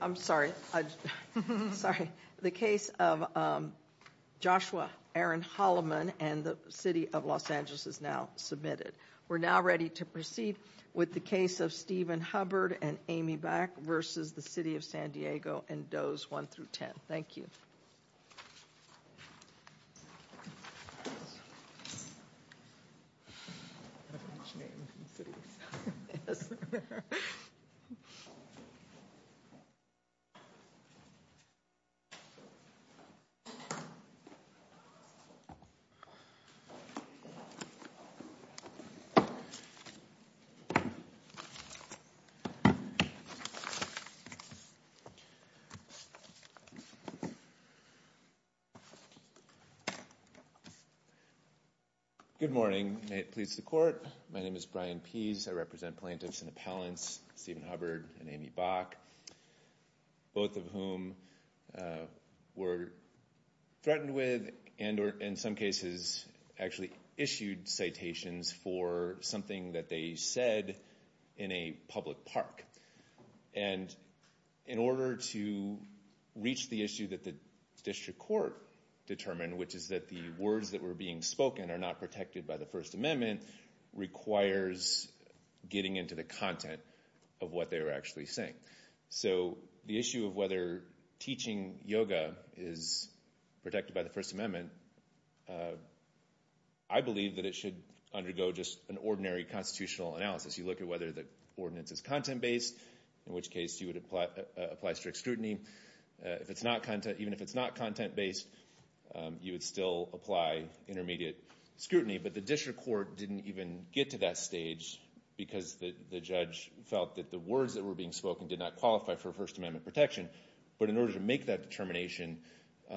I'm sorry I'm sorry the case of Joshua Aaron Holloman and the City of Los Angeles is now submitted. We're now ready to proceed with the case of Stephen Hubbard and Amy Back versus the City of San Diego and Does 1 through 10. Thank you. Good morning. May it please the court. My name is Brian Pease. I represent plaintiffs and appellants Stephen Hubbard and Amy Back, both of whom were threatened with and or in some cases actually issued citations for something that they said in a public park. And in order to reach the issue that the district court determined, which is that the words that were being spoken are not protected by the First Amendment, requires getting into the content of what they were actually saying. So the issue of whether teaching yoga is protected by the First Amendment, I believe that it should undergo just an ordinary constitutional analysis. You look at whether the ordinance is content-based, in which case you would apply strict scrutiny. If it's not content, even if it's not protected by the First Amendment, the district court didn't even get to that stage because the judge felt that the words that were being spoken did not qualify for First Amendment protection. But in order to make that determination,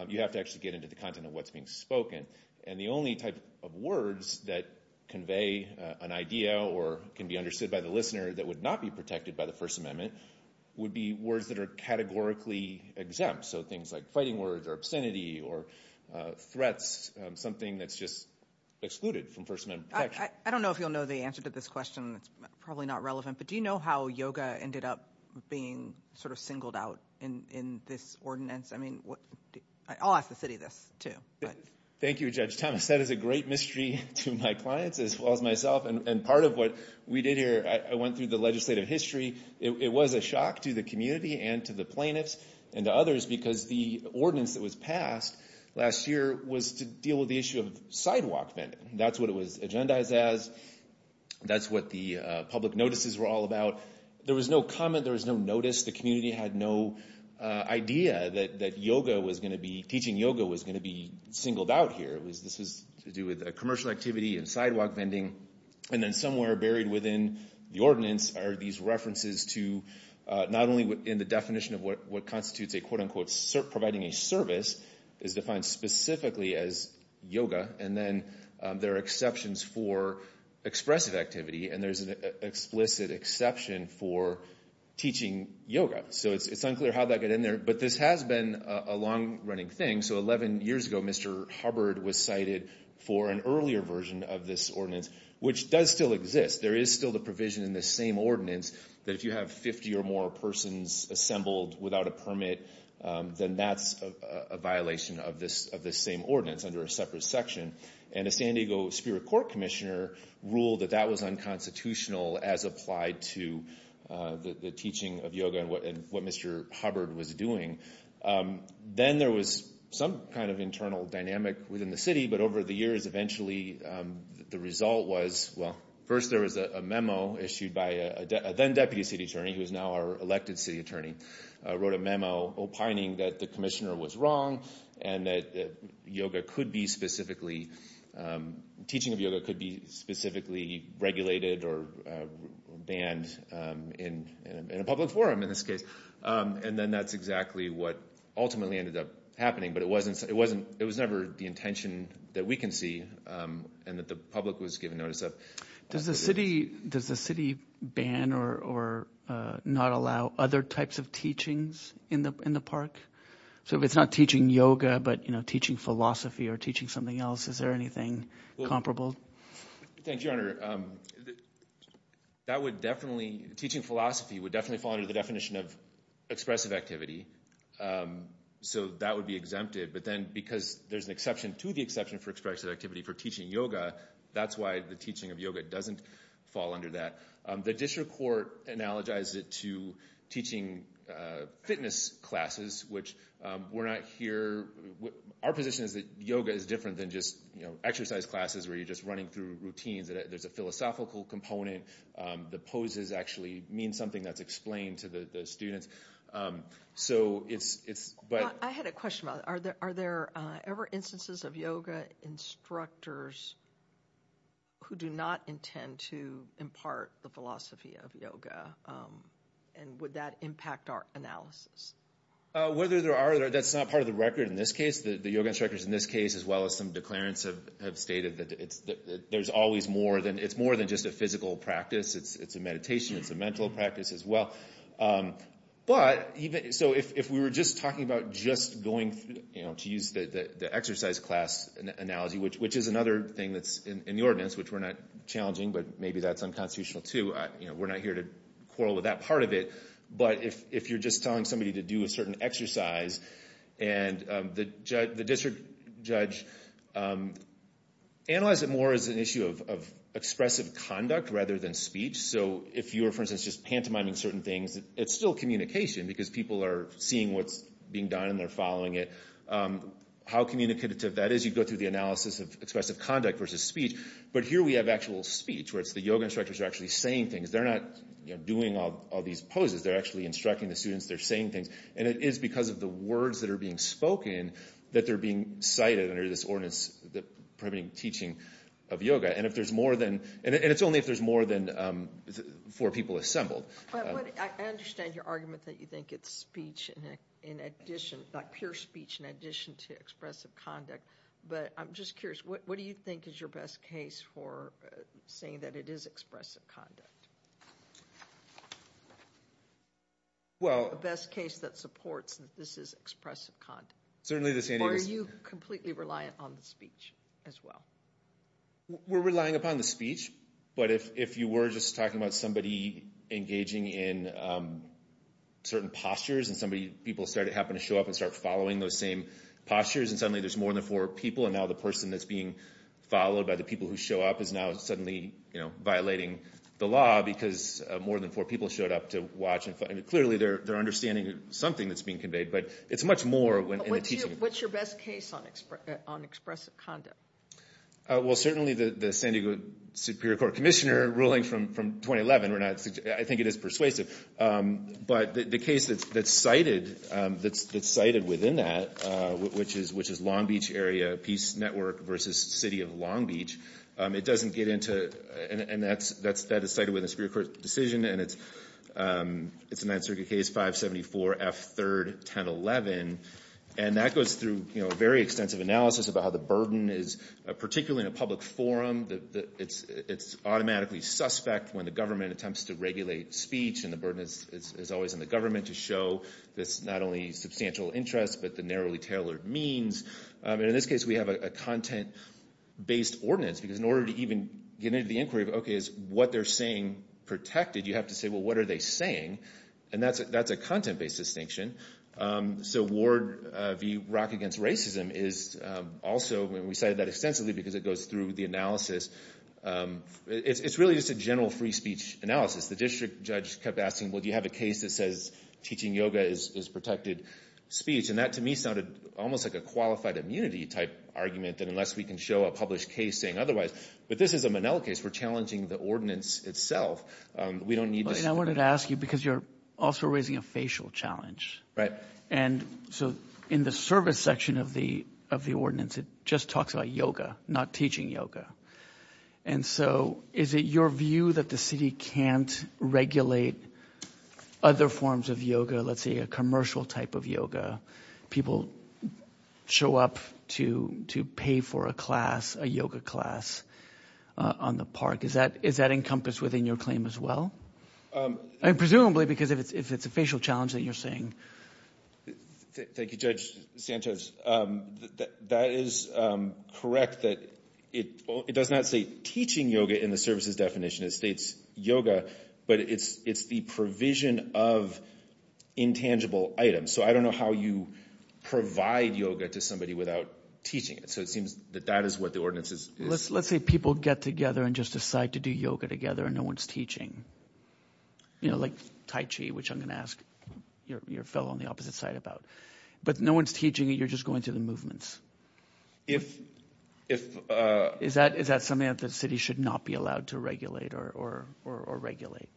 you have to actually get into the content of what's being spoken. And the only type of words that convey an idea or can be understood by the listener that would not be protected by the First Amendment would be words that are categorically exempt. So things like fighting words or obscenity or threats, something that's just excluded from First Amendment protection. I don't know if you'll know the answer to this question. It's probably not relevant, but do you know how yoga ended up being sort of singled out in this ordinance? I mean, I'll ask the city this too. Thank you, Judge Thomas. That is a great mystery to my clients as well as myself. And part of what we did here, I went through the legislative history. It was a shock to the community and to the plaintiffs and to others because the ordinance that was passed last year was to deal with the issue of sidewalk vending. That's what it was agendized as. That's what the public notices were all about. There was no comment. There was no notice. The community had no idea that yoga was going to be, teaching yoga was going to be singled out here. It was, this is to do with a commercial activity and sidewalk vending. And then somewhere buried within the ordinance are these references to, not only in the definition of what constitutes a quote-unquote providing a service, is defined specifically as yoga. And then there are exceptions for expressive activity. And there's an explicit exception for teaching yoga. So it's unclear how that got in there. But this has been a long-running thing. So 11 years ago, Mr. Hubbard was cited for an earlier version of this ordinance, which does still exist. There is still the provision in the same ordinance that if you have 50 or more persons assembled without a permit, then that's a violation of this of the same ordinance under a separate section. And a San Diego Spirit Court Commissioner ruled that that was unconstitutional as applied to the teaching of yoga and what Mr. Hubbard was doing. Then there was some kind of internal dynamic within the city. But over the years, eventually the result was, well, first there was a memo issued by a then-Deputy City Attorney, who is now our elected City Attorney, wrote a memo opining that the Commissioner was wrong and that yoga could be specifically, teaching of yoga could be specifically regulated or banned in a public forum in this case. And then that's exactly what ultimately ended up happening. But it wasn't, it was never the intention that we can see and that the public was given notice of. Does the city, does the city ban or not allow other types of teachings in the park? So if it's not teaching yoga, but you know, teaching philosophy or teaching something else, is there anything comparable? Thank you, Your Honor. That would definitely, teaching philosophy would definitely fall under the definition of expressive activity. So that would be exempted. But then because there's an exception to the exception for expressive activity for teaching yoga, that's why the teaching of yoga doesn't fall under that. The district court analogized it to teaching fitness classes, which we're not here, our position is that yoga is different than just, you know, exercise classes where you're just running through routines. There's a philosophical component. The poses actually mean something that's explained to the students. So it's, it's, but I had a question about it. Are there, are there ever instances of yoga instructors who do not intend to impart the philosophy of yoga? And would that impact our analysis? Whether there are, that's not part of the record in this case. The yoga instructors in this case, as well as some declarants, have stated that it's, there's always more than, it's more than just a physical practice. It's a meditation, it's a mental practice as well. But even, so if we were just talking about just going through, you know, to use the exercise class analogy, which, which is another thing that's in the ordinance, which we're not challenging, but maybe that's unconstitutional too, you know, we're not here to quarrel with that part of it. But if, if you're just telling somebody to do a certain exercise and the judge, the district judge analyzed it more as an issue of expressive conduct rather than speech. So if you were, for example, describing certain things, it's still communication because people are seeing what's being done and they're following it. How communicative that is, you go through the analysis of expressive conduct versus speech. But here we have actual speech, where it's the yoga instructors are actually saying things. They're not, you know, doing all these poses. They're actually instructing the students. They're saying things. And it is because of the words that are being spoken that they're being cited under this ordinance, the prohibiting teaching of yoga. And if there's more than, and it's only if there's more than four people assembled. I understand your argument that you think it's speech in addition, like pure speech in addition to expressive conduct. But I'm just curious, what do you think is your best case for saying that it is expressive conduct? Well, the best case that supports that this is expressive conduct. Certainly this is. Are you completely reliant on the speech as well? We're relying upon the speech. But if you were just talking about somebody engaging in certain postures and somebody, people start to happen to show up and start following those same postures and suddenly there's more than four people and now the person that's being followed by the people who show up is now suddenly, you know, violating the law because more than four people showed up to watch. And clearly they're understanding something that's being conveyed. But it's much more when it's teaching. What's your best case on expressive conduct? Well, certainly the San Diego Superior Court Commissioner ruling from 2011, I think it is persuasive. But the case that's cited within that, which is Long Beach Area Peace Network versus City of Long Beach, it doesn't get into, and that's that is cited within the Superior Court decision, and it's a Ninth Circuit case, 574 F. 3rd, 1011. And that goes through, you know, a very extensive analysis about how the burden is, particularly in a public forum, the it's automatically suspect when the government attempts to regulate speech and the burden is always on the government to show this not only substantial interest but the narrowly tailored means. And in this case we have a content-based ordinance because in order to even get into the inquiry, okay, is what they're saying protected? You have to say, well, what are they saying? And that's a content-based distinction. So Ward v. Rock against racism is also, and we cited that extensively because it goes through the analysis, it's really just a general free speech analysis. The district judge kept asking, well, do you have a case that says teaching yoga is protected speech? And that, to me, sounded almost like a qualified immunity type argument that unless we can show a published case saying otherwise, but this is a Monell case. We're challenging the ordinance itself. We don't need to say... I wanted to ask you because you're also raising a facial challenge. Right. And so in the service section of the of the ordinance, it just talks about yoga, not teaching yoga. And so is it your view that the city can't regulate other forms of yoga, let's say a commercial type of yoga? People show up to to pay for a class, a yoga class, on the park. Is that encompassed within your claim as well? Presumably because if it's a facial challenge that you're saying... Thank you, Judge Sanchez. That is correct that it does not say teaching yoga in the services definition. It states yoga, but it's the provision of intangible items. So I don't know how you provide yoga to somebody without teaching it. So it seems that that is what the ordinance is. Let's say people get together and just decide to do yoga together and no one's teaching. You know, Tai Chi, which I'm going to ask your fellow on the opposite side about. But no one's teaching, you're just going through the movements. Is that something that the city should not be allowed to regulate or regulate?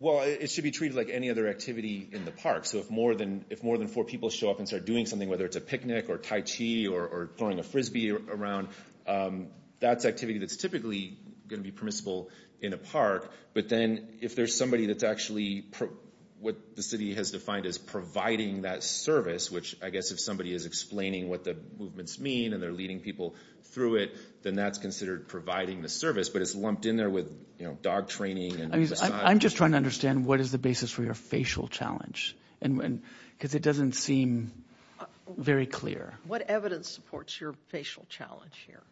Well, it should be treated like any other activity in the park. So if more than four people show up and start doing something, whether it's a picnic or Tai Chi or throwing a Frisbee around, that's activity that's typically going to be in a park. But then if there's somebody that's actually... what the city has defined as providing that service, which I guess if somebody is explaining what the movements mean and they're leading people through it, then that's considered providing the service. But it's lumped in there with, you know, dog training. I'm just trying to understand what is the basis for your facial challenge? Because it doesn't seem very clear. What evidence supports your facial challenge here?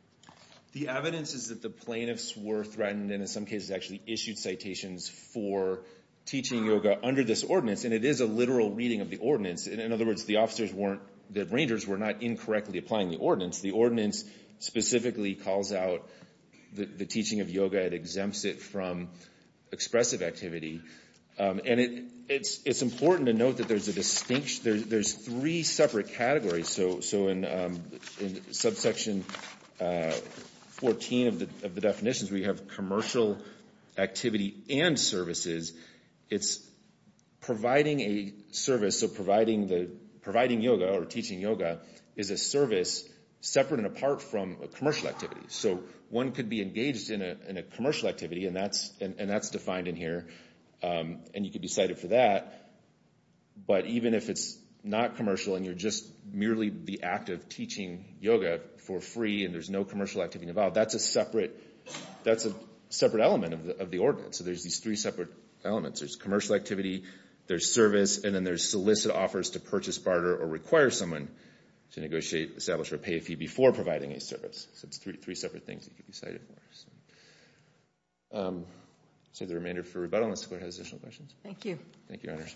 The evidence is that the plaintiffs were threatened and in some cases actually issued citations for teaching yoga under this ordinance. And it is a literal reading of the ordinance. In other words, the officers weren't... the rangers were not incorrectly applying the ordinance. The ordinance specifically calls out the teaching of yoga. It exempts it from expressive activity. And it's important to note that there's a distinction. There's three separate categories. So in subsection 14 of the definitions, we have commercial activity and services. It's providing a service. So providing yoga or teaching yoga is a service separate and apart from a commercial activity. So one could be engaged in a commercial activity and that's defined in here. And you could be cited for that. But even if it's not commercial and you're just merely the act of teaching yoga for free and there's no commercial activity involved, that's a separate element of the ordinance. So there's these three separate elements. There's commercial activity, there's service, and then there's solicit offers to purchase barter or require someone to negotiate, establish, or pay a fee before providing a service. So it's three separate things that could be cited. So the remainder for rebuttal in this court has additional questions. Thank you. Thank you, Your Honor.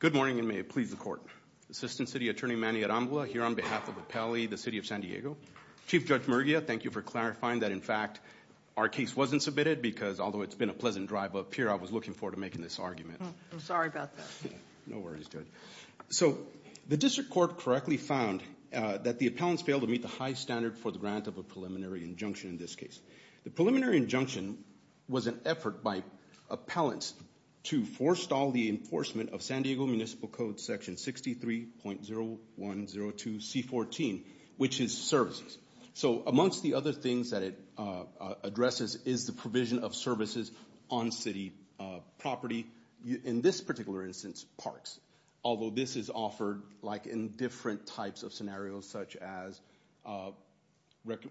Good morning and may it please the court. Assistant City Attorney Manny Arambula here on behalf of the Pele, the City of San Diego. Chief Judge Murguia, thank you for clarifying that in fact our case wasn't submitted because although it's been a pleasant drive up here, I was looking forward to making this argument. I'm sorry about that. No worries, Judge. So the District Court correctly found that the appellants failed to meet the high standard for the grant of a preliminary injunction in this case. The preliminary injunction was an effort by appellants to forestall the enforcement of San Diego Municipal Code Section 63.0102 C14, which is services. So amongst the other things that it addresses is the provision of services on city property. In this particular instance, parks. Although this is offered like in different types of scenarios such as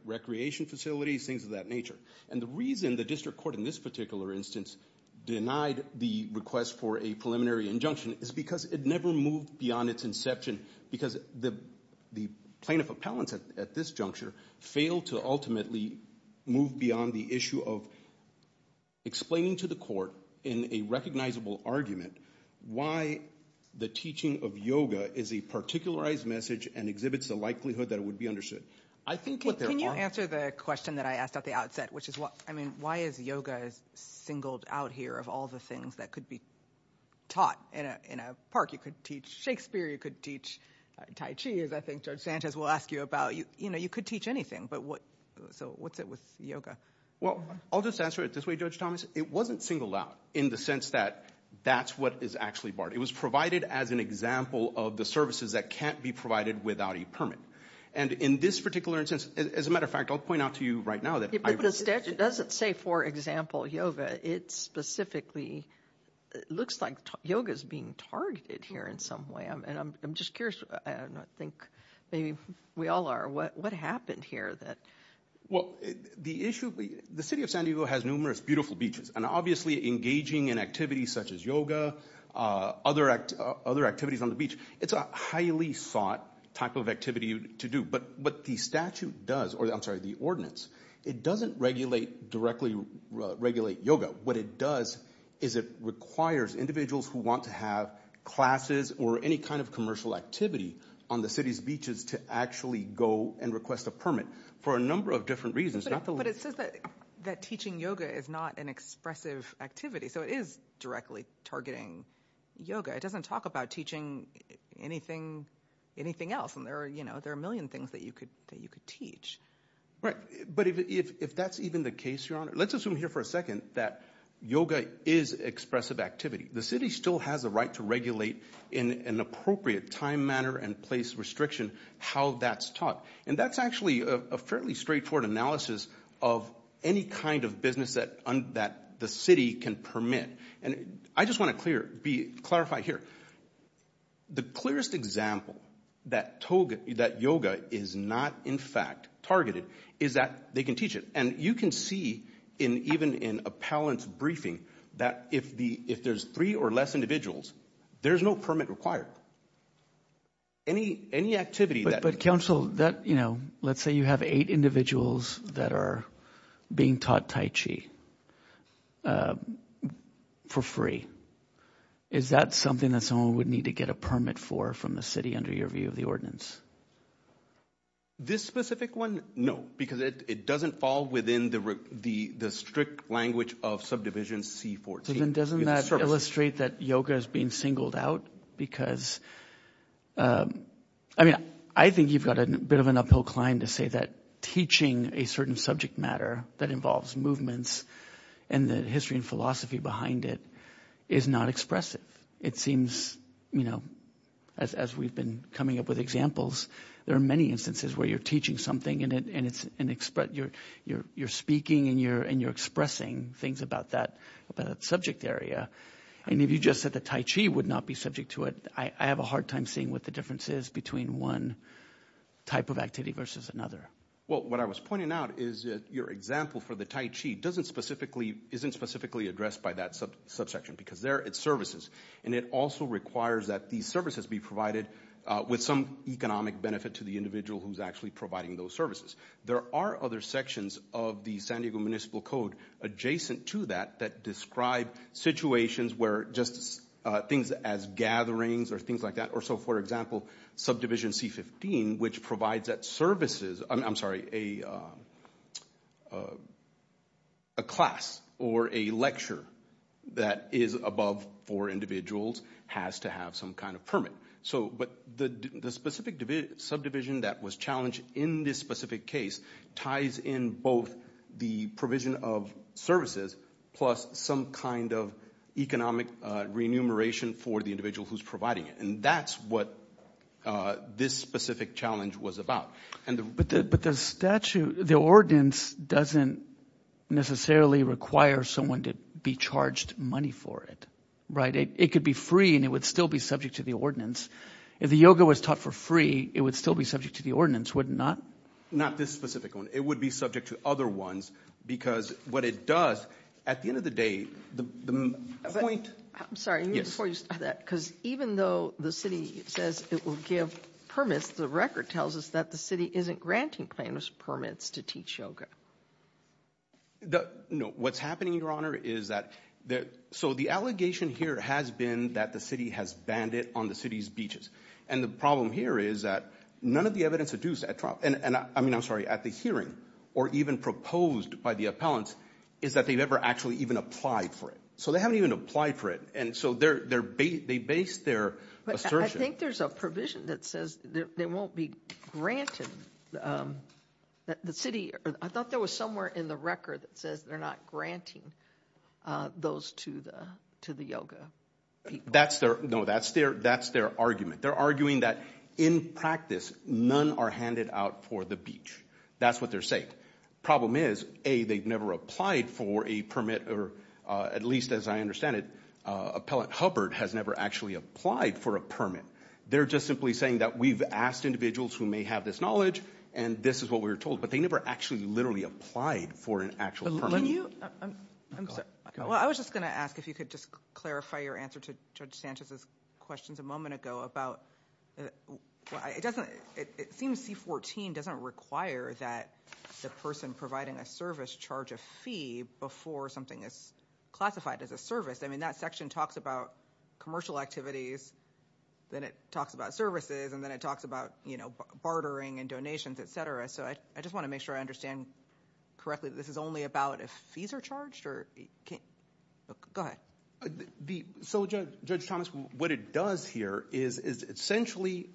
recreation facilities, things of that nature. And the reason the District Court in this particular instance denied the request for a preliminary injunction is because it never moved beyond its inception because the plaintiff appellants at this juncture failed to ultimately move beyond the issue of explaining to the court in a recognizable argument why the teaching of yoga is a particularized message and exhibits the likelihood that it would be understood. Can you answer the question that I asked at the outset, which is why is yoga singled out here of all the things that could be taught in a park? You could teach Shakespeare, you could teach Tai Chi, as I think Judge Sanchez will ask you about, you know, you could teach anything. But what, so what's it with yoga? Well, I'll just answer it this way, Judge Thomas. It wasn't singled out in the sense that that's what is actually barred. It was provided as an example of the services that can't be provided without a permit. And in this particular instance, as a matter of fact, I'll point out to you right now that it doesn't say, for example, yoga. It specifically looks like yoga is being targeted here in some way. And I'm just curious, and I think maybe we all are, what happened here that... Well, the issue, the city of San Diego has numerous beautiful beaches, and obviously engaging in activities such as yoga, other activities on the beach, it's a highly sought type of activity to do. But what the statute does, or I'm sorry, the ordinance, it doesn't regulate directly, regulate yoga. What it does is it requires individuals who want to have classes or any kind of commercial activity on the city's beaches to actually go and request a permit for a number of different reasons. But it says that teaching yoga is not an expressive activity, so it is directly targeting yoga. It doesn't talk about teaching anything, anything else. And there are, you know, there are a million things that you could, that you could teach. Right, but if that's even the case, Your Honor, let's assume here for a second that yoga is expressive activity. The city still has a right to regulate in an appropriate time, manner, and place restriction how that's taught. And that's actually a fairly straightforward analysis of any kind of business that the city can permit. And I just want to clarify here, the clearest example that yoga is not in fact targeted is that they can teach it. And you can see, even in appellant's briefing, that if there's three or less individuals, there's no permit required. Any activity that... But counsel, that, you know, let's say you have eight individuals that are being taught tai chi for free. Is that something that someone would need to get a permit for from the city under your view of the relevance? This specific one, no, because it doesn't fall within the strict language of subdivision C14. Doesn't that illustrate that yoga is being singled out? Because, I mean, I think you've got a bit of an uphill climb to say that teaching a certain subject matter that involves movements and the history and philosophy behind it is not expressive. It seems, you know, as we've been coming up with examples, there are many instances where you're teaching something and it's an express... You're speaking and you're expressing things about that subject area. And if you just said the tai chi would not be subject to it, I have a hard time seeing what the difference is between one type of activity versus another. Well, what I was pointing out is your example for the tai chi doesn't specifically... isn't specifically addressed by that subsection because they're its services. And it also requires that these services be provided with some economic benefit to the individual who's actually providing those services. There are other sections of the San Diego Municipal Code adjacent to that that describe situations where just things as gatherings or things like that. Or so, for example, subdivision C15 which provides that services... I'm sorry, a class or a lecture that is above four individuals has to have some kind of permit. So, but the specific subdivision that was challenged in this specific case ties in both the provision of services plus some kind of economic remuneration for the individual who's providing it. And that's what this specific challenge was about. But the statute, the ordinance doesn't necessarily require someone to be charged money for it, right? It could be free and it would still be subject to the ordinance. If the yoga was taught for free, it would still be subject to the ordinance, would it not? Not this specific one. It would be subject to other ones because what it does, at the end of the day, the point... I'm sorry, before you start that, because even though the city says it will give permits, the record tells us that the city isn't granting planners permits to teach yoga. No, what's happening, your honor, is that... so the allegation here has been that the city has banned it on the city's beaches. And the problem here is that none of the evidence at the hearing or even proposed by the appellants is that they've ever actually even applied for it. So they haven't even applied for it. And so they base their assertion... I think there's a provision that says they won't be granted... the city... I thought there was somewhere in the record that says they're not granting those to the yoga people. No, that's their argument. They're arguing that, in practice, none are handed out for the beach. That's what they're saying. Problem is, A, they've never applied for a permit or, at least as I understand it, Appellant Hubbard has never actually applied for a permit. They're just simply saying that we've asked individuals who may have this knowledge and this is what they're told, but they never actually literally applied for an actual permit. I was just gonna ask if you could just clarify your answer to Judge Sanchez's questions a moment ago about... it seems C-14 doesn't require that the person providing a service charge a fee before something is classified as a service. I mean, that section talks about commercial activities, then it talks about services, and then it talks about, you know, bartering and donations, etc. So I just want to make sure I understand correctly that this is only about if fees are charged? Go ahead. So, Judge Thomas, what it does here is essentially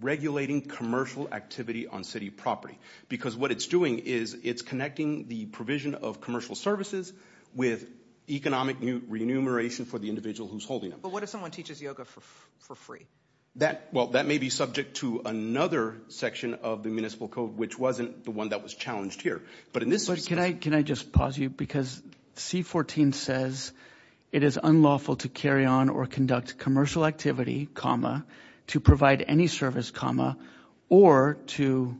regulating commercial activity on city property because what it's doing is it's connecting the provision of commercial services with economic remuneration for the individual who's holding them. But what if someone teaches yoga for free? Well, that may be subject to another section of the Municipal Code which wasn't the one that was challenged here. But in this... Can I just pause you? Because C-14 says it is unlawful to carry on or conduct commercial activity, to provide any service, or to...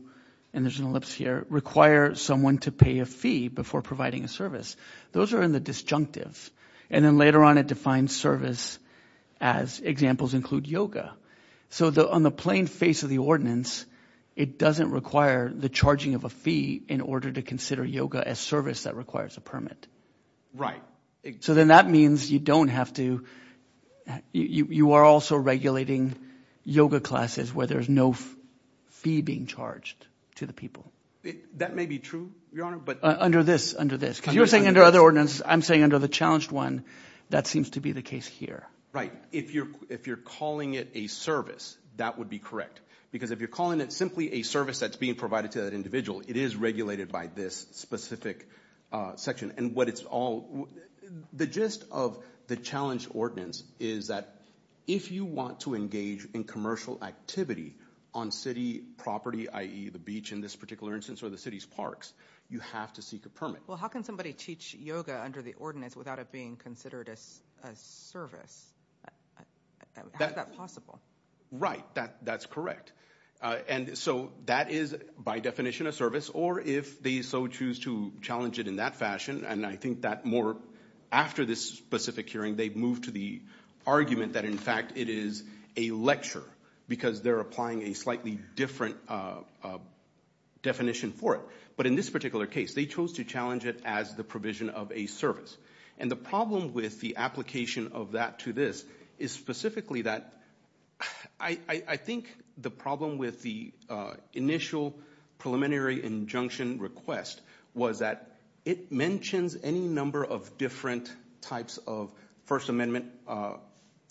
and there's an ellipse here... require someone to pay a fee before providing a service. Those are in the disjunctive. And then later on it defines service as examples include yoga. So on the plain face of the ordinance, it doesn't require the charging of a fee in order to consider yoga as service that requires a permit. Right. So then that means you don't have to... you are also regulating yoga classes where there's no fee being charged to the people. That may be true, Your Honor, but... Under this, under this. Because you're saying under other ordinances, I'm saying under the challenged one, that seems to be the case here. Right. If you're calling it a service, that would be correct. Because if you're calling it simply a service that's being provided to that individual, it is regulated by this specific section. And what it's all... The gist of the challenged ordinance is that if you want to engage in commercial activity on city property, i.e. the beach in this particular instance or the city's parks, you have to seek a permit. Well, how can somebody teach yoga under the ordinance without it being considered a service? How is that possible? Right. That's correct. And so that is, by definition, a service. Or if they so choose to challenge it in that fashion, and I think that more after this specific hearing, they've moved to the argument that, in fact, it is a lecture because they're applying a slightly different definition for it. But in this particular case, they chose to challenge it as the provision of a service. And the problem with the application of that to this is specifically that... I think the problem with the initial preliminary injunction request was that it mentions any number of different types of First Amendment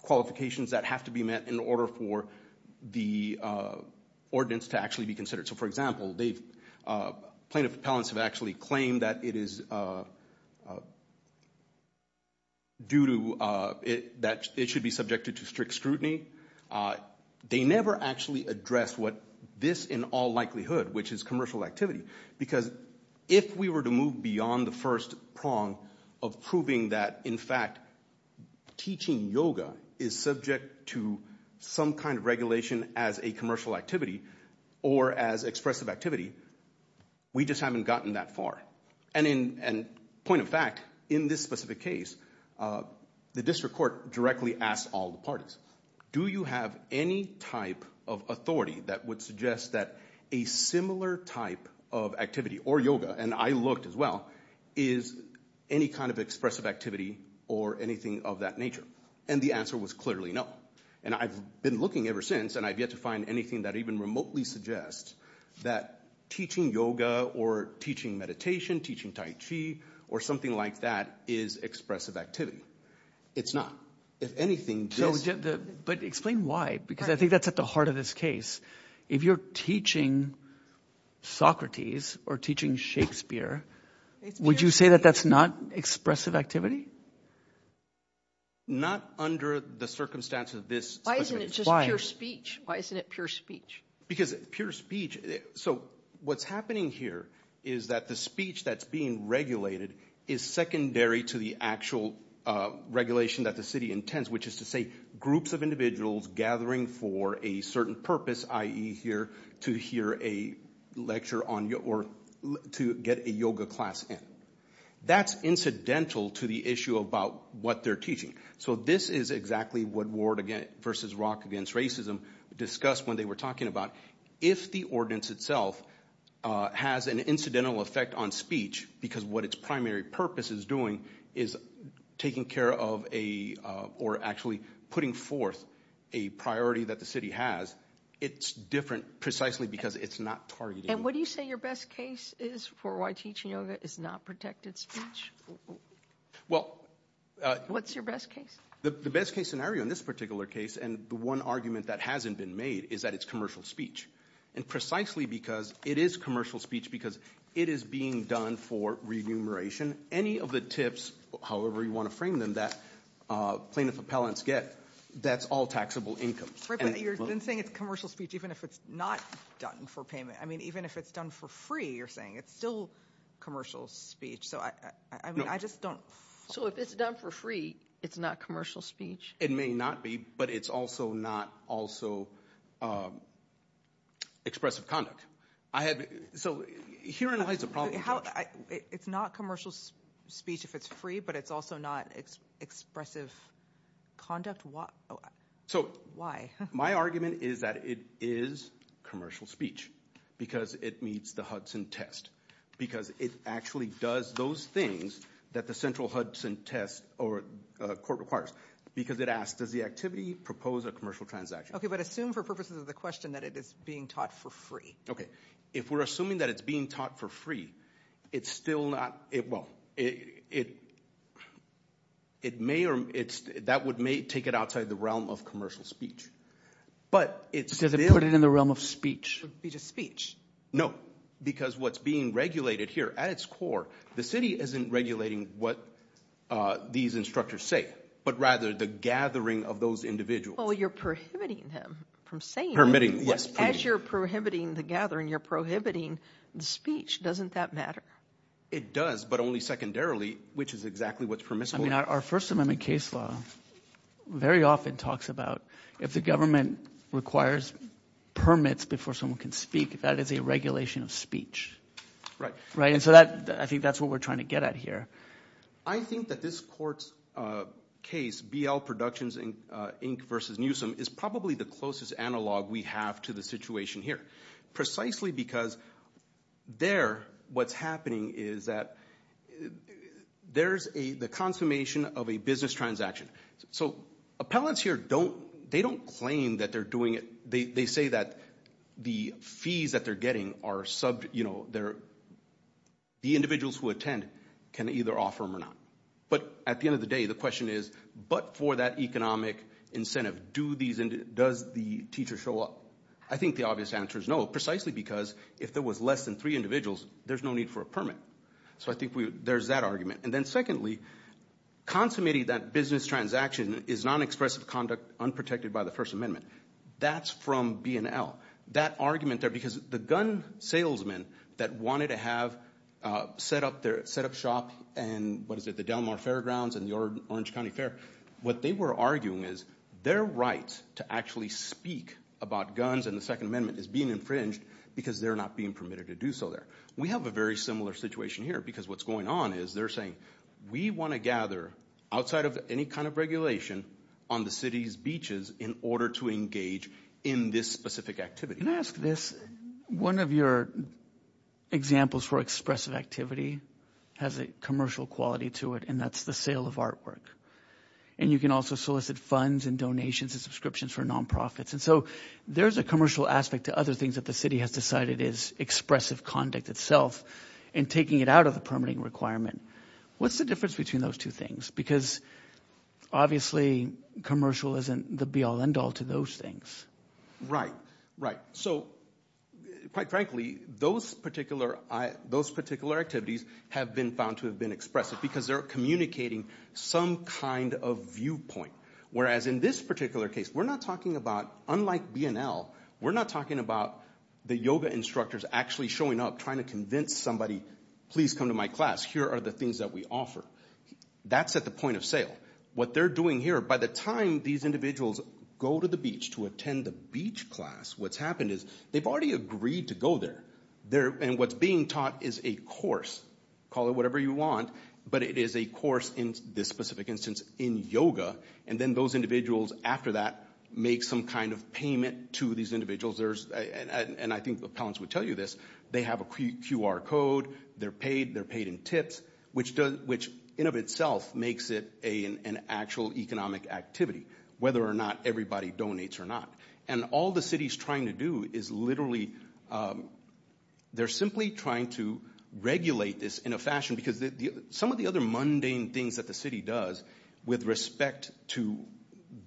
qualifications that have to be met in order for the ordinance to actually be considered. So, for example, plaintiff appellants have actually claimed that it is due to... that it should be subjected to strict scrutiny. They never actually addressed what this in all likelihood, which is commercial activity. Because if we were to move beyond the first prong of proving that, in fact, teaching yoga is subject to some kind of regulation as a commercial activity or as expressive activity, we just haven't gotten that far. And point of fact, in this specific case, the district court directly asked all the parties, do you have any type of authority that would suggest that a similar type of activity or yoga, and I looked as well, is any kind of expressive activity or anything of that nature? And the answer was clearly no. And I've been looking ever since, and I've yet to find anything that even remotely suggests that teaching yoga or teaching meditation, teaching tai chi, or something like that is expressive activity. It's not. If anything, just... But explain why, because I think that's at the heart of this case. If you're teaching Socrates or teaching Shakespeare, would you say that that's not expressive activity? Not under the circumstance of this. Why isn't it just pure speech? Why isn't it pure speech? Because pure speech... So what's happening here is that the speech that's being regulated is secondary to the actual regulation that the city intends, which is to say groups of individuals gathering for a certain purpose, i.e. here to hear a lecture on yoga or to get a yoga class in. That's incidental to the issue about what they're teaching. So this is exactly what Ward versus Rock Against Racism discussed when they were talking about. If the ordinance itself has an incidental effect on speech, because what its primary purpose is doing is taking care of a, or actually putting forth a priority that the city has, it's different precisely because it's not targeted. And what do you say your best case is for why teaching yoga is not protected speech? What's your best case? The best case scenario in this particular case, and the one argument that hasn't been made, is that it's commercial speech. And precisely because it is commercial speech because it is being done for remuneration. Any of the tips, however you want to frame them, that plaintiff appellants get, that's all taxable income. But you're saying it's commercial speech even if it's not done for payment. I mean even if it's done for free, you're saying, it's still commercial speech. So I just don't. So if it's done for free, it's not commercial speech? It may not be, but it's also not also expressive conduct. I have, so herein lies the problem. It's not commercial speech if it's free, but it's also not expressive conduct? Why? So my argument is that it is commercial speech. Because it meets the Hudson test. Because it actually does those things that the central Hudson test or court requires. Because it asks, does the activity propose a commercial transaction? Okay, but assume for purposes of the question that it is being taught for free. Okay, if we're assuming that it's being taught for free, it's still not, it well, it may or it's, that would may take it outside the realm of commercial speech. But it's... Does it put it in the realm of speech? It's a speech. No, because what's being regulated here at its core, the city isn't regulating what these instructors say, but rather the gathering of those individuals. Oh, you're prohibiting them from saying it. Permitting, yes. As you're prohibiting the gathering, you're prohibiting the speech. Doesn't that matter? It does, but only secondarily, which is exactly what's permissible. I mean our First Amendment case law very often talks about, if the government requires permits before someone can speak, that is a regulation of speech. Right. Right, and so that, I think that's what we're trying to get at here. I think that this court's case, BL Productions Inc. versus Newsom, is probably the closest analog we have to the situation here. Precisely because there, what's happening is that there's a, the transformation of a business transaction. So appellants here don't, they don't claim that they're doing it. They say that the fees that they're getting are sub, you know, they're, the individuals who attend can either offer them or not. But at the end of the day, the question is, but for that economic incentive, do these, does the teacher show up? I think the obvious answer is no, precisely because if there was less than three individuals, there's no need for a consummating that business transaction is non-expressive conduct unprotected by the First Amendment. That's from B&L. That argument there, because the gun salesmen that wanted to have set up their, set up shop and, what is it, the Del Mar Fairgrounds and the Orange County Fair, what they were arguing is their rights to actually speak about guns and the Second Amendment is being infringed because they're not being permitted to do so there. We have a very similar situation here, because what's going on is they're saying, we want to gather, outside of any kind of regulation, on the city's beaches in order to engage in this specific activity. Can I ask this? One of your examples for expressive activity has a commercial quality to it, and that's the sale of artwork. And you can also solicit funds and donations and subscriptions for nonprofits. And so there's a commercial aspect to other things that the city has decided is expressive conduct itself and taking it out of the permitting requirement. What's the difference between those two things? Because obviously commercial isn't the be-all end-all to those things. Right, right. So quite frankly, those particular, those particular activities have been found to have been expressive because they're communicating some kind of viewpoint. Whereas in this particular case, we're not talking about, unlike B&L, we're not talking about the yoga instructors actually showing up trying to convince somebody, please come to my class, here are the things that we offer. That's at the point of sale. What they're doing here, by the time these individuals go to the beach to attend the beach class, what's happened is they've already agreed to go there. And what's being taught is a course, call it whatever you want, but it is a course in this specific instance in yoga. And then those individuals, after that, make some kind of payment to these individuals. And I think the appellants would tell you this, they have a QR code, they're paid, they're paid in tips, which in of itself makes it an actual economic activity, whether or not everybody donates or not. And all the city's trying to do is literally, they're simply trying to regulate this in a fashion, because some of the other mundane things that the city does with respect to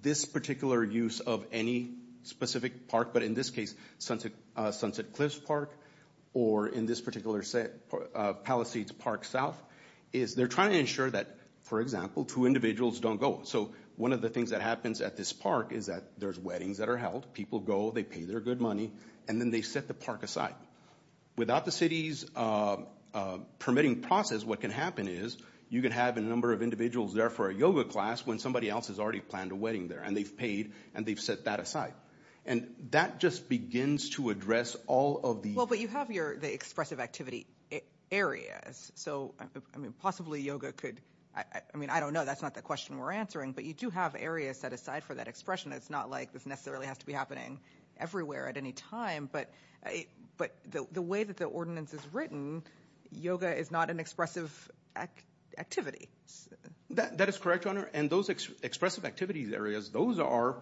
this particular use of any specific park, but in this case, Sunset Cliffs Park, or in this particular set, Palisades Park South, is they're trying to ensure that, for example, two individuals don't go. So one of the things that happens at this park is that there's weddings that are held, people go, they pay their good money, and then they set the park aside. Without the city's permitting process, what can happen is, you can have a number of individuals there for a yoga class when somebody else has already planned a wedding there, and they've paid, and they've set that aside. And that just begins to address all of the... Well, but you have the expressive activity areas, so I mean possibly yoga could, I mean, I don't know, that's not the question we're answering, but you do have areas set aside for that expression. It's not like this necessarily has to be happening everywhere at any time, but the way that the ordinance is written, yoga is not an expressive activity. That is correct, Your Honor, and those expressive activities areas, those are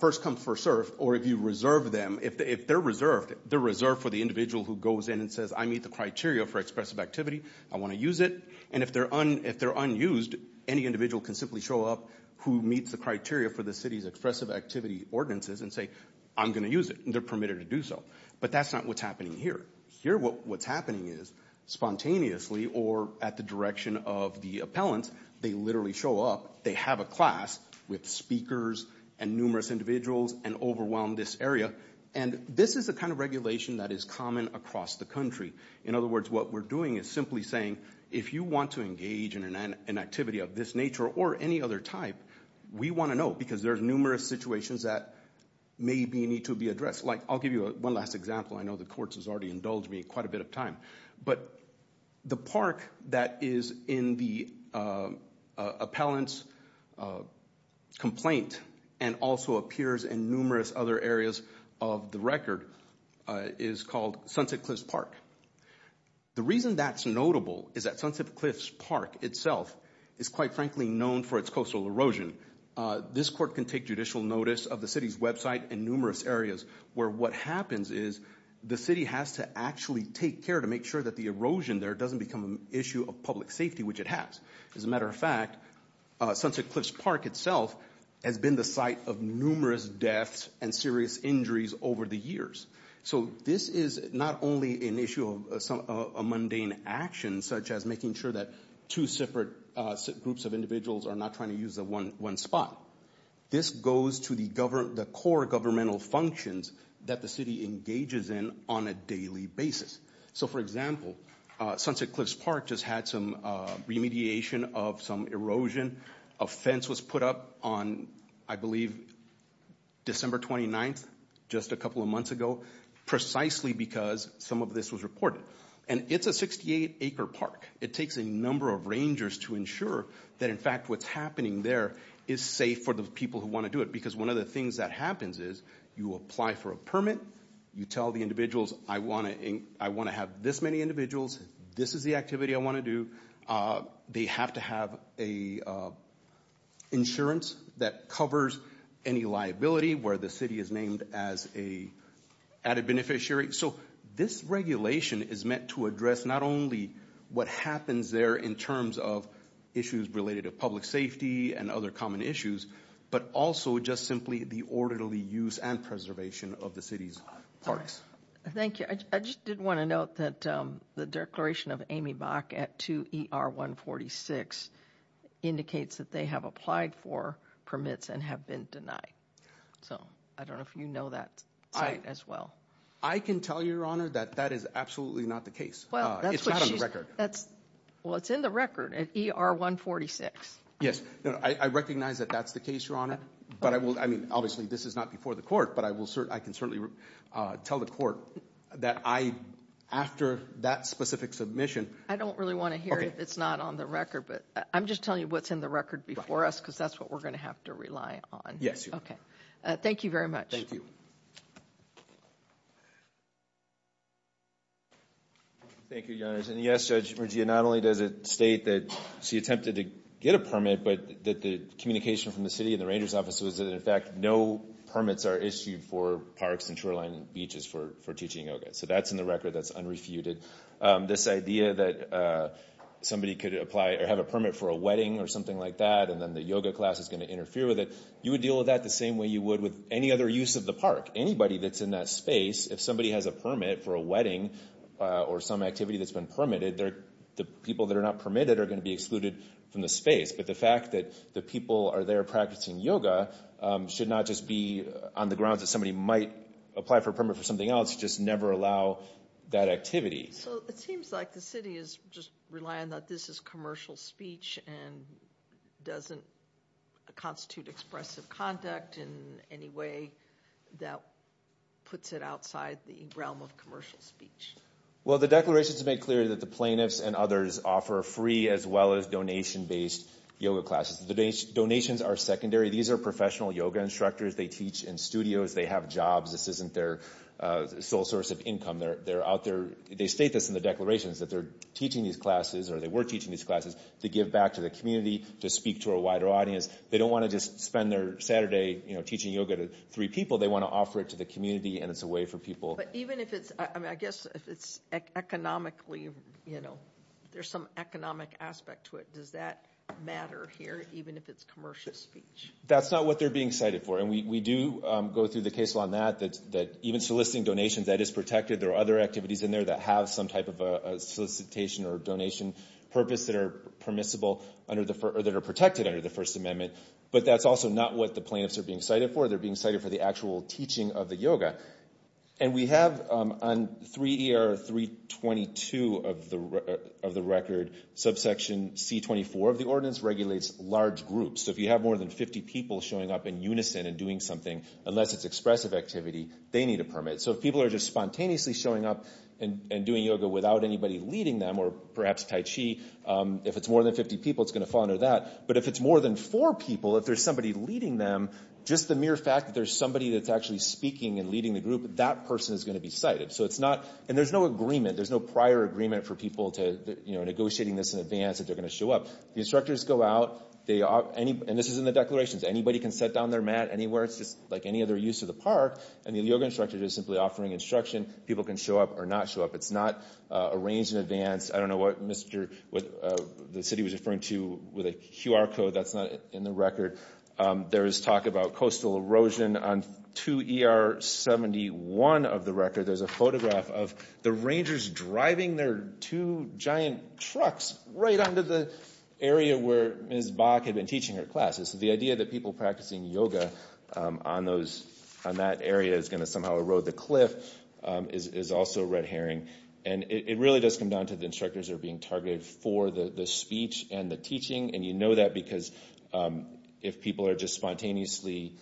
first-come, first-served, or if you reserve them, if they're reserved, they're reserved for the individual who goes in and says, I meet the criteria for expressive activity, I want to use it, and if they're unused, any individual can simply show up who meets the criteria for the city's expressive activity ordinances and say, I'm gonna use it, and they're permitted to do so. But that's not what's happening here. Here, what's happening is, spontaneously or at the direction of the appellant, they literally show up, they have a class with speakers and numerous individuals and overwhelm this area, and this is the kind of regulation that is common across the country. In other words, what we're doing is simply saying, if you want to engage in an activity of this nature or any other type, we want to know, because there's numerous situations that maybe need to be addressed. Like, I'll give you one last example. I know the court has already indulged me quite a bit of time, but the park that is in the appellant's complaint and also appears in numerous other areas of the record is called Sunset Cliffs Park. The reason that's notable is that Sunset Cliffs Park itself is quite frankly known for its coastal erosion. This court can take judicial notice of the city's website and numerous areas where what happens is the city has to actually take care to make sure that the erosion there doesn't become an issue of public safety, which it has. As a matter of fact, Sunset Cliffs Park itself has been the site of numerous deaths and serious injuries over the years. So this is not only an issue of a mundane action, such as making sure that two separate groups of individuals are not trying to use one spot. This goes to the core governmental functions that the city engages in on a daily basis. So, for example, Sunset Cliffs Park just had some remediation of some erosion. A fence was put up on, I believe, December 29th, just a couple of months ago, precisely because some of this was reported. And it's a 68-acre park. It takes a number of rangers to ensure that in fact what's happening there is safe for the people who want to do it. Because one of the things that happens is you apply for a permit, you tell the individuals, I want to have this many individuals, this is the activity I want to do. They have to have insurance that covers any liability where the city is named as a added beneficiary. So this regulation is meant to address not only what happens there in terms of issues related to public safety and other common issues, but also just simply the orderly use and preservation of the city's parks. Thank you. I just did want to note that the declaration of Amy Bach at 2 ER 146 indicates that they have applied for permits and have been denied. So I don't know if you know that as well. I can tell you, Your Honor, that that is absolutely not the case. It's not on the record. Well, it's in the record at ER 146. Yes, I recognize that that's the case, Your Honor. But I will, I mean, obviously this is not before the court, but I can certainly tell the court that I, after that specific submission... I don't really want to hear if it's not on the record, but I'm just telling you what's in the record before us because that's what we're gonna have to rely on. Yes. Okay. Thank you very much. Thank you. Thank you, Your Honors. And yes, Judge Mergia, not only does it state that she attempted to get a permit, but that the communication from the city and the ranger's office was that in fact no permits are issued for parks and shoreline beaches for teaching yoga. So that's in the record. That's unrefuted. This idea that somebody could apply or have a permit for a wedding or something like that and then the yoga class is going to interfere with it, you would deal with that the same way you would with any other use of the park. Anybody that's in that space, if somebody has a permit for a wedding or some activity that's been permitted, the people that are not permitted are going to be excluded from the space. But the fact that the people are there practicing yoga should not just be on the grounds that somebody might apply for a permit for something else, just never allow that activity. So it seems like the city is just relying that this is commercial speech and doesn't constitute expressive conduct in any way that puts it outside the realm of commercial speech. Well the declarations make clear that the plaintiffs and others offer free as well as donation based yoga classes. The donations are secondary. These are professional yoga instructors. They teach in studios. They have jobs. This isn't their sole source of income. They're out there, they state this in the declarations, that they're teaching these classes or they were teaching these classes to give back to the community, to speak to a wider audience. They don't want to just spend their Saturday teaching yoga to three people. They want to offer it to the community and it's a way for people. But even if it's, I guess, if it's economically, you know, there's some economic aspect to it, does that matter here, even if it's commercial speech? That's not what they're being cited for. And we do go through the case law on that, that even soliciting donations, that is protected. There are other activities in there that have some type of a solicitation or donation purpose that are permissible under the, or that is not what the plaintiffs are being cited for. They're being cited for the actual teaching of the yoga. And we have on 3ER322 of the record, subsection C24 of the ordinance, regulates large groups. So if you have more than 50 people showing up in unison and doing something, unless it's expressive activity, they need a permit. So if people are just spontaneously showing up and doing yoga without anybody leading them, or perhaps Tai Chi, if it's more than 50 people, it's going to fall under that. But if it's more than four people, if there's somebody leading them, just the mere fact that there's somebody that's actually speaking and leading the group, that person is going to be cited. So it's not, and there's no agreement, there's no prior agreement for people to, you know, negotiating this in advance that they're going to show up. The instructors go out, they, and this is in the declarations, anybody can sit down their mat anywhere, it's just like any other use of the park, and the yoga instructor is simply offering instruction, people can show up or not show up. It's not arranged in advance, I don't know what Mr., what the city was referring to with a QR code, that's not in the record. There is talk about coastal erosion on 2 ER 71 of the record, there's a photograph of the Rangers driving their two giant trucks right onto the area where Ms. Bach had been teaching her classes. So the idea that people practicing yoga on those, on that area is going to somehow erode the cliff is also red herring. And it really does come down to the instructors are being targeted for the speech and the teaching, and you know that because if people are just spontaneously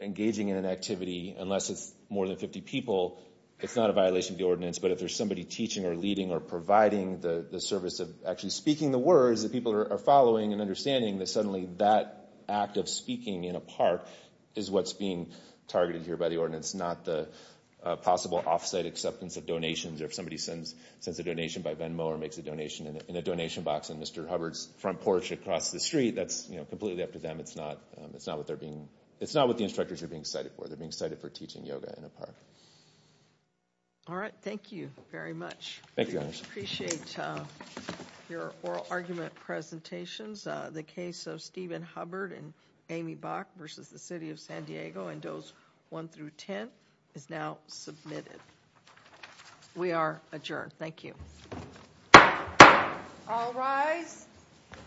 engaging in an activity, unless it's more than 50 people, it's not a violation of the ordinance, but if there's somebody teaching or leading or providing the service of actually speaking the words that people are following and understanding that suddenly that act of speaking in a park is what's being targeted here by the ordinance, not the possible off-site acceptance of donations or if somebody sends, sends a donation by Venmo or makes a donation in a donation box in Mr. Hubbard's front porch across the street, that's you know completely up to them. It's not, it's not what they're being, it's not what the instructors are being cited for. They're being cited for teaching yoga in a park. All right, thank you very much. Thank you appreciate your oral argument presentations. The case of Stephen Hubbard and Amy Bach versus the City of San Diego in Dose 1 through 10 is now submitted. We are adjourned. Thank you.